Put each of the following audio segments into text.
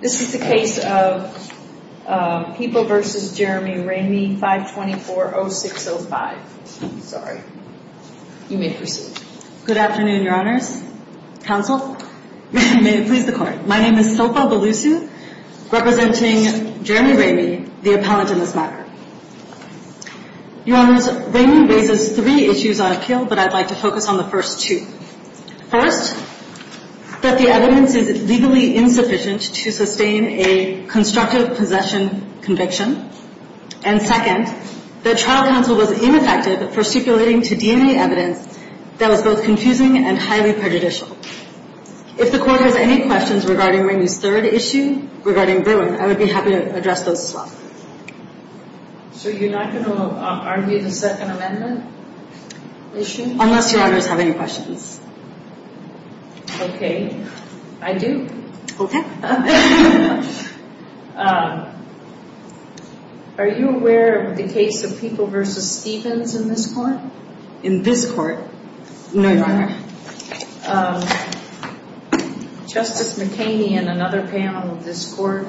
This is the case of People v. Jeremy Ramey, 524-0605. Sorry. You may proceed. Good afternoon, Your Honors. Counsel, may it please the Court. My name is Sofa Belusu, representing Jeremy Ramey, the appellant in this matter. Your Honors, Ramey raises three issues on a kill, but I'd like to focus on the first two. First, that the evidence is legally insufficient to sustain a constructive possession conviction. And second, that trial counsel was ineffective for stipulating to DNA evidence that was both confusing and highly prejudicial. If the Court has any questions regarding Ramey's third issue, regarding Berwyn, I would be happy to address those as well. So you're not going to argue the Second Amendment issue? Unless Your Honors have any questions. Okay. I do. Okay. Are you aware of the case of People v. Stevens in this Court? In this Court? No, Your Honor. Justice McCaney and another panel of this Court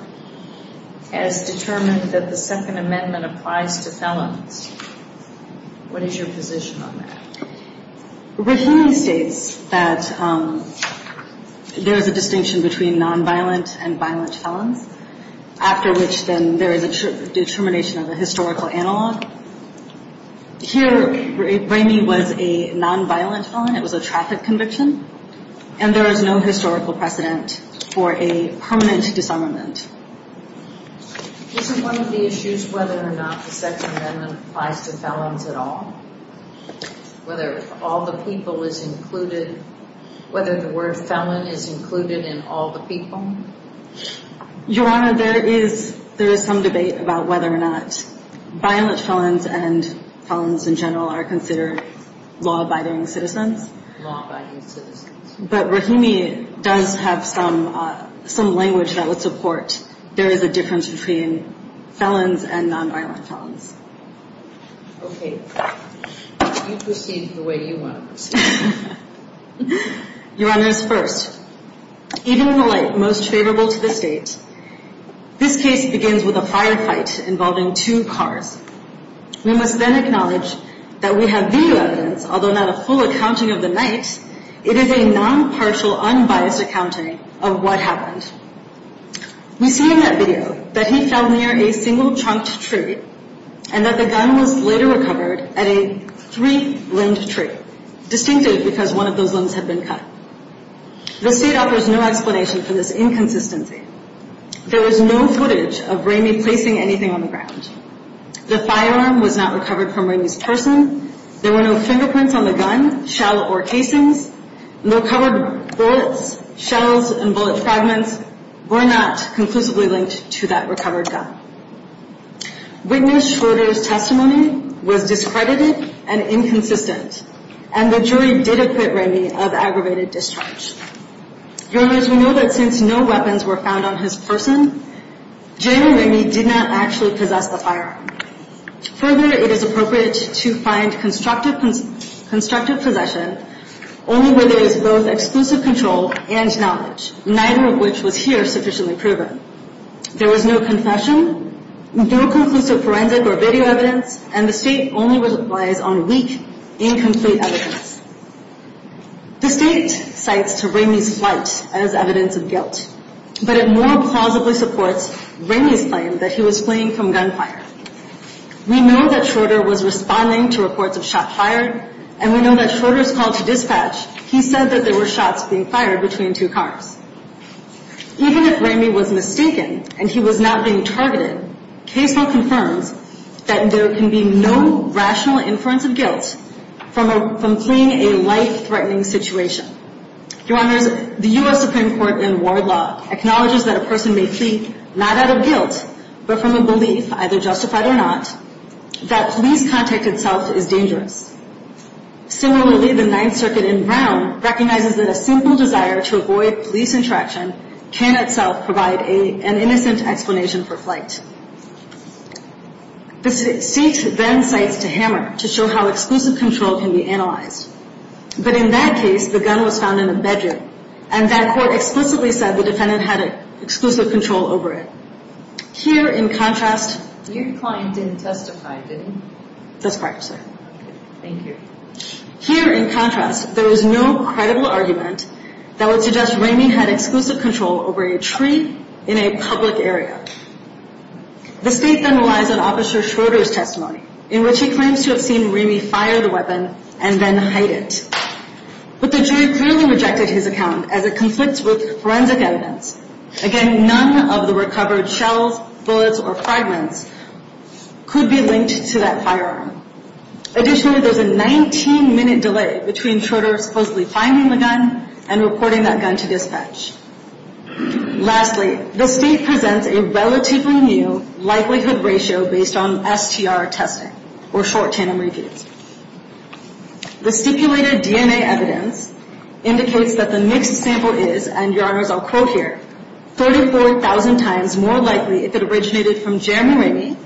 has determined that the Second Amendment applies to felons. What is your position on that? Berwyn states that there is a distinction between non-violent and violent felons, after which then there is a determination of a historical analog. Here, Ramey was a non-violent felon. It was a traffic conviction. And there is no historical precedent for a permanent disarmament. Isn't one of the issues whether or not the Second Amendment applies to felons at all? Whether all the people is included, whether the word felon is included in all the people? Your Honor, there is some debate about whether or not violent felons and felons in general are considered law-abiding citizens. Law-abiding citizens. But Rahimi does have some language that would support there is a difference between felons and non-violent felons. Okay. You proceed the way you want to proceed. Your Honor, first, even the light most favorable to the State, this case begins with a firefight involving two cars. We must then acknowledge that we have video evidence, although not a full accounting of the night, it is a non-partial, unbiased accounting of what happened. We see in that video that he fell near a single chunked tree and that the gun was later recovered at a three-limbed tree, distinctive because one of those limbs had been cut. The State offers no explanation for this inconsistency. There was no footage of Ramey placing anything on the ground. The firearm was not recovered from Ramey's person. There were no fingerprints on the gun, shell, or casings. No covered bullets, shells, and bullet fragments were not conclusively linked to that recovered gun. Witness Schroeder's testimony was discredited and inconsistent, and the jury did acquit Ramey of aggravated discharge. Your Honor, as we know that since no weapons were found on his person, Jamie Ramey did not actually possess the firearm. Further, it is appropriate to find constructive possession only where there is both exclusive control and knowledge, neither of which was here sufficiently proven. There was no confession, no conclusive forensic or video evidence, and the State only relies on weak, incomplete evidence. The State cites to Ramey's flight as evidence of guilt, but it more plausibly supports Ramey's claim that he was fleeing from gunfire. We know that Schroeder was responding to reports of shots fired, and we know that Schroeder's call to dispatch, he said that there were shots being fired between two cars. Even if Ramey was mistaken and he was not being targeted, case law confirms that there can be no rational inference of guilt from fleeing a life-threatening situation. Your Honors, the U.S. Supreme Court in Ward Law acknowledges that a person may flee not out of guilt, but from a belief, either justified or not, that police contact itself is dangerous. Similarly, the Ninth Circuit in Brown recognizes that a simple desire to avoid police interaction can itself provide an innocent explanation for flight. The State then cites to Hammer to show how exclusive control can be analyzed, but in that case, the gun was found in a bedroom, and that court explicitly said the defendant had exclusive control over it. Here, in contrast, Your client didn't testify, did he? That's correct, sir. Thank you. Here, in contrast, there is no credible argument that would suggest Ramey had exclusive control over a tree in a public area. The State then relies on Officer Schroeder's testimony, in which he claims to have seen and then hide it. But the jury clearly rejected his account, as it conflicts with forensic evidence. Again, none of the recovered shells, bullets, or fragments could be linked to that firearm. Additionally, there's a 19-minute delay between Schroeder supposedly finding the gun and reporting that gun to dispatch. Lastly, the State presents a relatively new likelihood ratio based on STR testing, or short tandem reviews. The stipulated DNA evidence indicates that the mixed sample is, and Your Honors, I'll quote here, 34,000 times more likely if it originated from Jeremy Ramey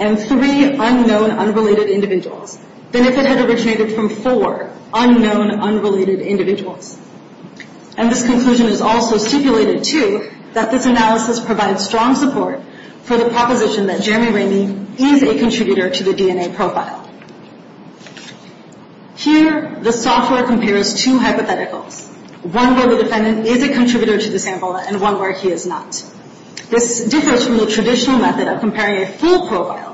and three unknown, unrelated individuals than if it had originated from four unknown, unrelated individuals. And this conclusion is also stipulated, too, that this analysis provides strong support for the proposition that Jeremy Ramey is a contributor to the DNA profile. Here, the software compares two hypotheticals, one where the defendant is a contributor to the sample and one where he is not. This differs from the traditional method of comparing a full profile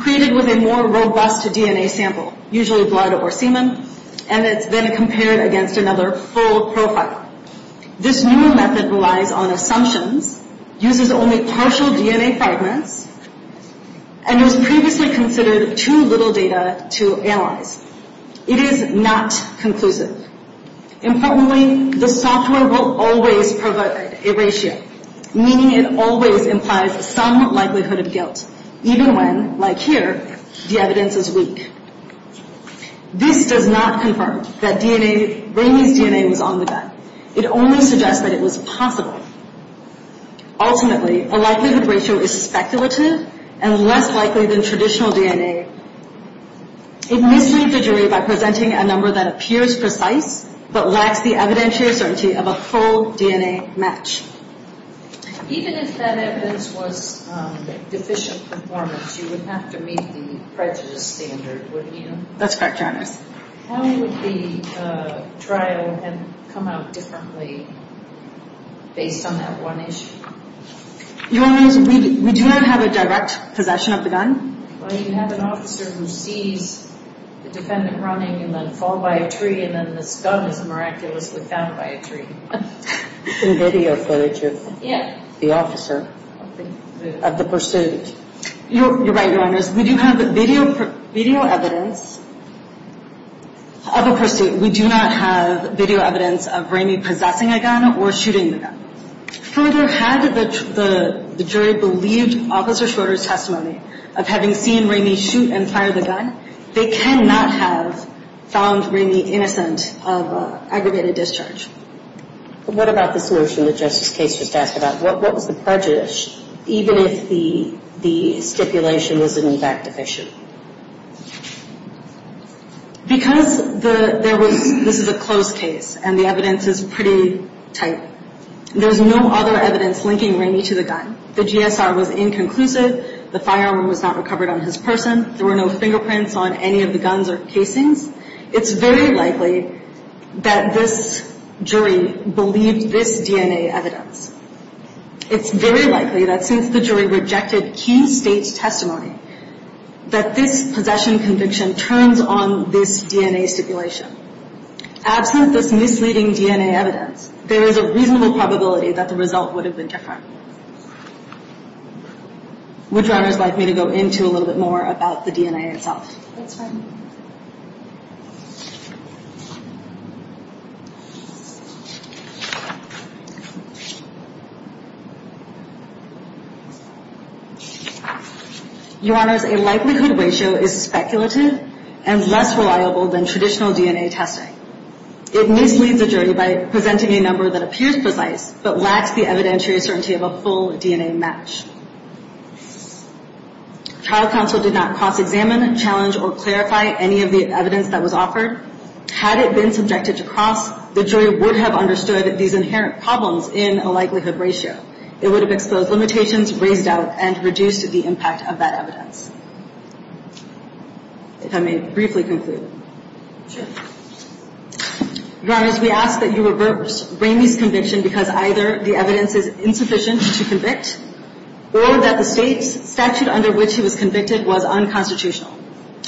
created with a more robust DNA sample, usually blood or semen, and it's then compared against another full profile. This new method relies on assumptions, uses only partial DNA fragments, and was previously considered too little data to analyze. It is not conclusive. Importantly, the software will always provide a ratio, meaning it always implies some likelihood of guilt, even when, like here, the evidence is weak. This does not confirm that Ramey's DNA was on the gun. It only suggests that it was possible. Ultimately, a likelihood ratio is speculative and less likely than traditional DNA. It misleads the jury by presenting a number that appears precise but lacks the evidentiary certainty of a full DNA match. Even if that evidence was deficient performance, you would have to meet the prejudice standard, wouldn't you? That's correct, Your Honor. How would the trial have come out differently based on that one issue? Your Honor, we do not have a direct possession of the gun. Well, you have an officer who sees the defendant running and then fall by a tree and then this gun is miraculously found by a tree. In video footage of the officer of the pursuit. You're right, Your Honor. We do have video evidence of a pursuit. We do not have video evidence of Ramey possessing a gun or shooting the gun. Further, had the jury believed Officer Schroeder's testimony of having seen Ramey shoot and fire the gun, they cannot have found Ramey innocent of aggravated discharge. What about this notion that Justice Case just asked about? What was the prejudice, even if the stipulation was in fact deficient? Because this is a closed case and the evidence is pretty tight, there's no other evidence linking Ramey to the gun. The GSR was inconclusive. The firearm was not recovered on his person. There were no fingerprints on any of the guns or casings. It's very likely that this jury believed this DNA evidence. It's very likely that since the jury rejected key state's testimony, that this possession conviction turns on this DNA stipulation. Absent this misleading DNA evidence, there is a reasonable probability that the result would have been different. Would you honors like me to go into a little bit more about the DNA itself? That's fine. Your honors, a likelihood ratio is speculative and less reliable than traditional DNA testing. It misleads the jury by presenting a number that appears precise, but lacks the evidentiary certainty of a full DNA match. Trial counsel did not cross-examine, challenge, or clarify any of the evidence that was offered. Had it been subjected to cross, the jury would have understood these inherent problems in a likelihood ratio. It would have exposed limitations, raised doubt, and reduced the impact of that evidence. If I may briefly conclude. Your honors, we ask that you reverse Bramey's conviction because either the evidence is insufficient to convict, or that the state's statute under which he was convicted was unconstitutional.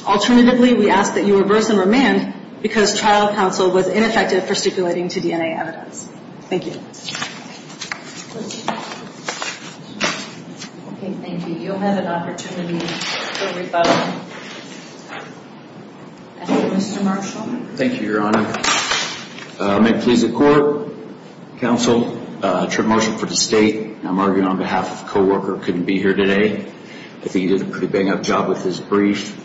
Alternatively, we ask that you reverse and remand because trial counsel was ineffective for stipulating to DNA evidence. Thank you. Thank you. Okay, thank you. You'll have an opportunity to rebut. Mr. Marshall. Thank you, your honor. May it please the court, counsel, Trent Marshall for the state. I'm arguing on behalf of a co-worker who couldn't be here today. I think he did a pretty bang-up job with his brief.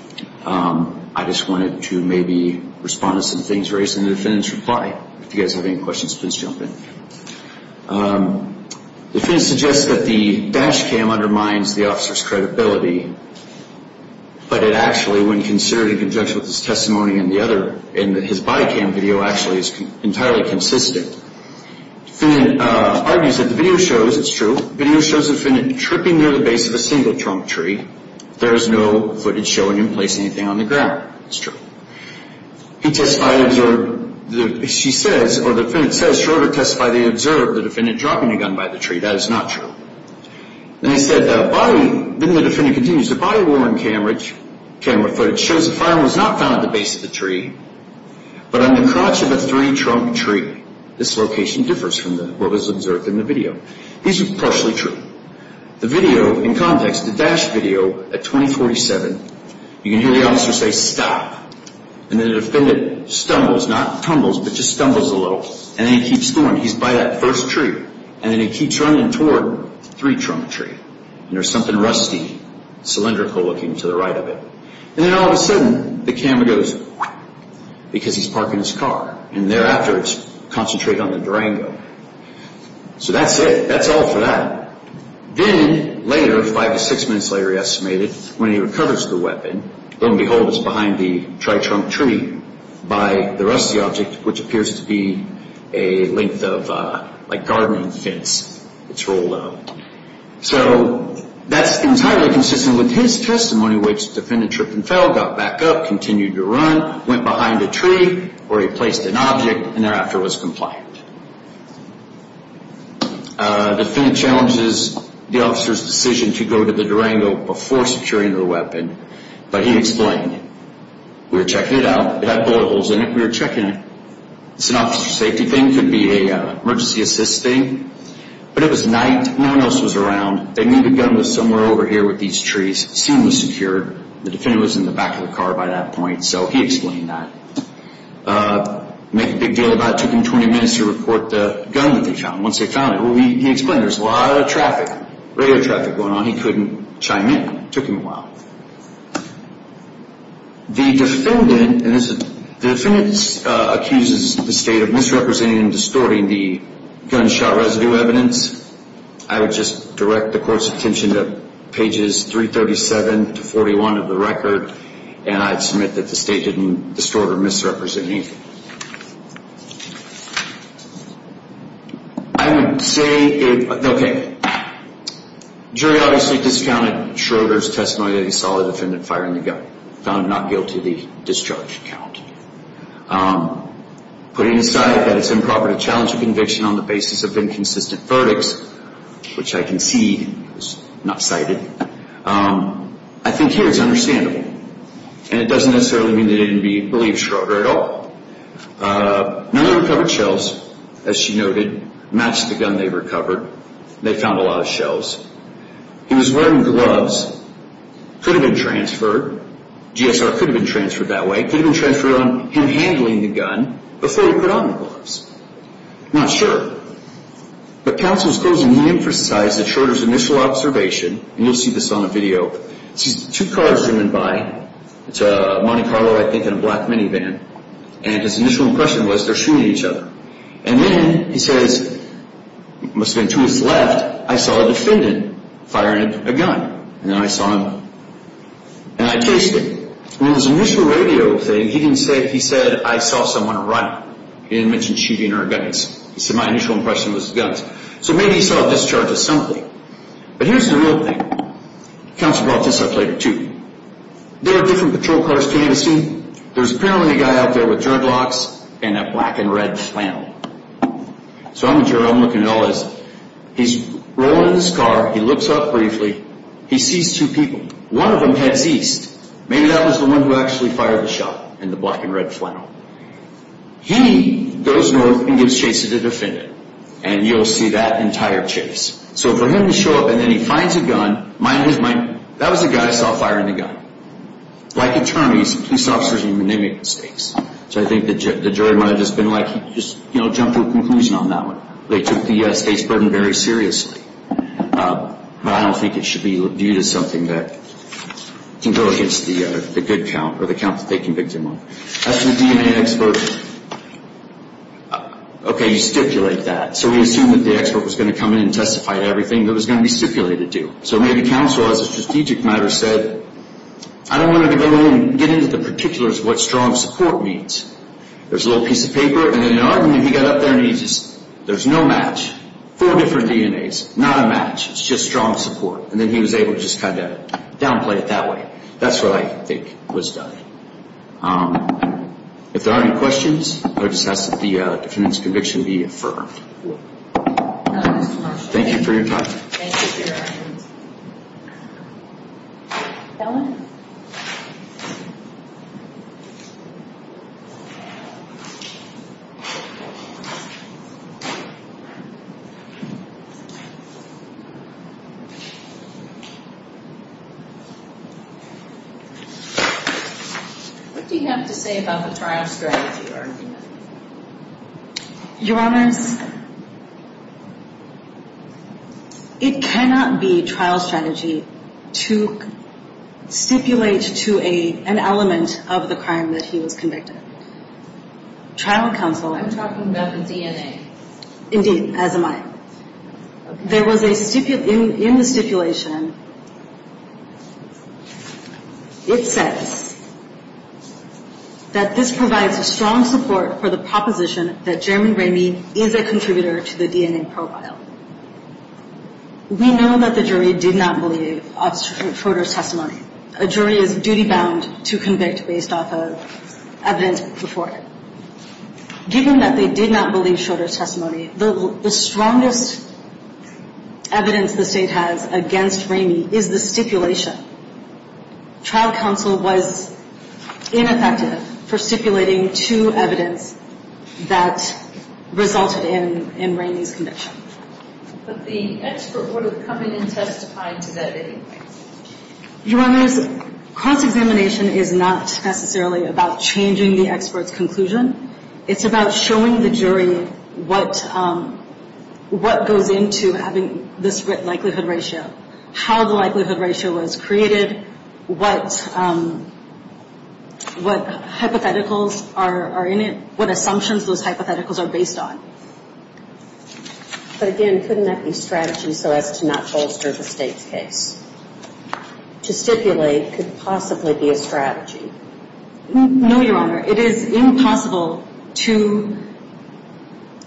I just wanted to maybe respond to some things raised in the defendant's reply. If you guys have any questions, please jump in. The defendant suggests that the dash cam undermines the officer's credibility, but it actually, when considered in conjunction with his testimony in the other, in his body cam video, actually is entirely consistent. The defendant argues that the video shows, it's true, the video shows the defendant tripping near the base of a single trunk tree. There is no footage showing him placing anything on the ground. It's true. He testified, observed, she says, or the defendant says, she wrote or testified that he observed the defendant dropping a gun by the tree. That is not true. Then he said, then the defendant continues, the body worn camera footage shows the firearm was not found at the base of the tree, but on the crotch of a three-trunk tree. This location differs from what was observed in the video. These are partially true. The video, in context, the dash video at 2047, you can hear the officer say, stop. And then the defendant stumbles, not tumbles, but just stumbles a little. And then he keeps going. He's by that first tree. And then he keeps running toward the three-trunk tree. And there's something rusty, cylindrical looking to the right of it. And then all of a sudden, the camera goes, because he's parking his car. And thereafter, it's concentrated on the Durango. So that's it. That's all for that. Then later, five to six minutes later, he estimated, when he recovers the weapon, lo and behold, it's behind the tri-trunk tree by the rusty object, which appears to be a length of, like, gardening fence. It's rolled up. So that's entirely consistent with his testimony, which the defendant tripped and fell, got back up, continued to run, went behind a tree where he placed an object, and thereafter was compliant. The defendant challenges the officer's decision to go to the Durango before securing the weapon. But he explained, we were checking it out. It had bullet holes in it. We were checking it. It's an officer safety thing. It could be an emergency assist thing. But it was night. No one else was around. They knew the gun was somewhere over here with these trees. The scene was secured. The defendant was in the back of the car by that point. So he explained that. Make a big deal about it. And then he managed to report the gun that they found. Once they found it, well, he explained, there's a lot of traffic, radio traffic going on. He couldn't chime in. It took him a while. The defendant, and this is, the defendant accuses the state of misrepresenting and distorting the gunshot residue evidence. I would just direct the court's attention to pages 337 to 41 of the record, and I'd submit that the state didn't distort or misrepresent anything. I would say, okay, jury obviously discounted Schroeder's testimony that he saw the defendant firing the gun. Found him not guilty of the discharge count. Putting aside that it's improper to challenge a conviction on the basis of inconsistent verdicts, which I concede was not cited, I think here it's understandable. And it doesn't necessarily mean that it didn't believe Schroeder at all. None of the recovered shelves, as she noted, matched the gun they recovered. They found a lot of shelves. He was wearing gloves. Could have been transferred. GSR could have been transferred that way. Could have been transferred on him handling the gun before he put on the gloves. Not sure. But counsel's closing, he emphasized that Schroeder's initial observation, and you'll see this on the video, he sees two cars zooming by. It's a Monte Carlo, I think, and a black minivan. And his initial impression was they're shooting each other. And then he says, must have been two minutes left, I saw a defendant firing a gun. And then I saw him. And I chased him. And in his initial radio thing, he didn't say, he said, I saw someone run. He didn't mention shooting or guns. He said my initial impression was guns. So maybe he saw discharges simply. But here's the real thing. Counsel brought this up later, too. There are different patrol cars behind the scene. There's apparently a guy out there with jerk locks and a black and red flannel. So I'm looking at all this. He's rolling in his car. He looks up briefly. He sees two people. One of them heads east. Maybe that was the one who actually fired the shot in the black and red flannel. He goes north and gives chase to the defendant. And you'll see that entire chase. So for him to show up and then he finds a gun, that was the guy I saw firing the gun. Like attorneys, police officers, you make mistakes. So I think the jury might have just been like, you know, jumped to a conclusion on that one. They took the state's burden very seriously. But I don't think it should be viewed as something that can go against the good count or the count that they convicted him of. As to the DNA expert, okay, you stipulate that. So we assume that the expert was going to come in and testify to everything that it was going to be stipulated to. So maybe counsel, as a strategic matter, said, I don't want to go in and get into the particulars of what strong support means. There's a little piece of paper. And in an argument, he got up there and he just, there's no match. Four different DNAs, not a match. It's just strong support. And then he was able to just kind of downplay it that way. That's what I think was done. If there are any questions, I would just ask that the defendant's conviction be affirmed. Thank you for your time. What do you have to say about the trial strategy argument? Your Honors, it cannot be trial strategy to stipulate to an element of the crime that he was convicted. Trial counsel. I'm talking about the DNA. Indeed, as am I. There was a stipulation, in the stipulation, it says that this provides a strong support for the proposition that Jeremy Ramey is a contributor to the DNA profile. We know that the jury did not believe Schroeder's testimony. A jury is duty bound to convict based off of evidence before it. Given that they did not believe Schroeder's testimony, the strongest evidence the state has against Ramey is the stipulation. Trial counsel was ineffective for stipulating to evidence that resulted in Ramey's conviction. But the expert would have come in and testified to that anyway. Your Honors, cross-examination is not necessarily about changing the expert's conclusion. It's about showing the jury what goes into having this likelihood ratio. How the likelihood ratio was created, what hypotheticals are in it, what assumptions those hypotheticals are based on. But again, couldn't that be strategy so as to not bolster the state's case? To stipulate could possibly be a strategy. No, Your Honor. It is impossible to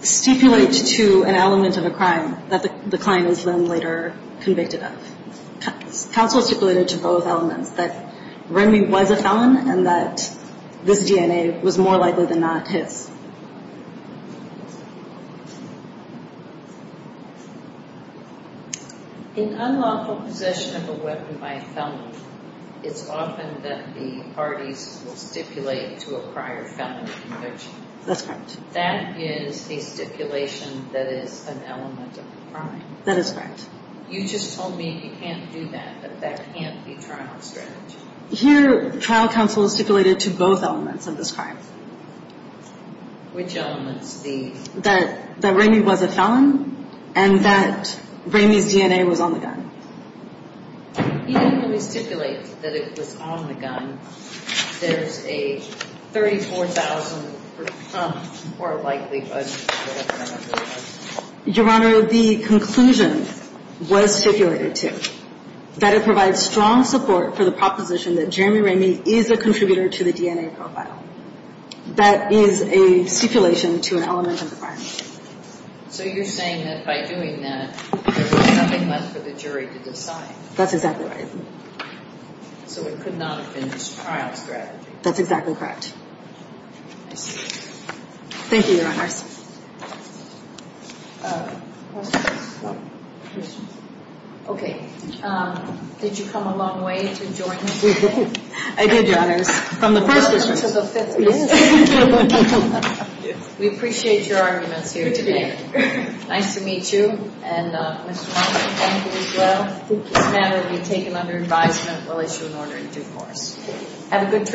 stipulate to an element of a crime that the client was then later convicted of. Counsel stipulated to both elements that Ramey was a felon and that this DNA was more likely than not his. In unlawful possession of a weapon by a felon, it's often that the parties will stipulate to a prior felony conviction. That's correct. That is the stipulation that is an element of a crime. That is correct. You just told me you can't do that, that that can't be trial strategy. Here, trial counsel stipulated to both elements of this crime. Which elements? That Ramey was a felon and that Ramey's DNA was on the gun. Even when we stipulate that it was on the gun, there's a 34,000% more likelihood that it was. Your Honor, the conclusion was stipulated to that it provides strong support for the proposition that Jeremy Ramey is a contributor to the DNA profile. That is a stipulation to an element of a crime. So you're saying that by doing that, there was nothing left for the jury to decide. That's exactly right. So it could not have been trial strategy. That's exactly correct. I see. Thank you, Your Honors. Questions? Questions? Okay. Did you come a long way to join us today? I did, Your Honors. From the first to the fifth. We appreciate your arguments here today. Nice to meet you. And Mr. Monk, thank you as well. This matter will be taken under advisement. We'll issue an order in due course. Have a good trip home.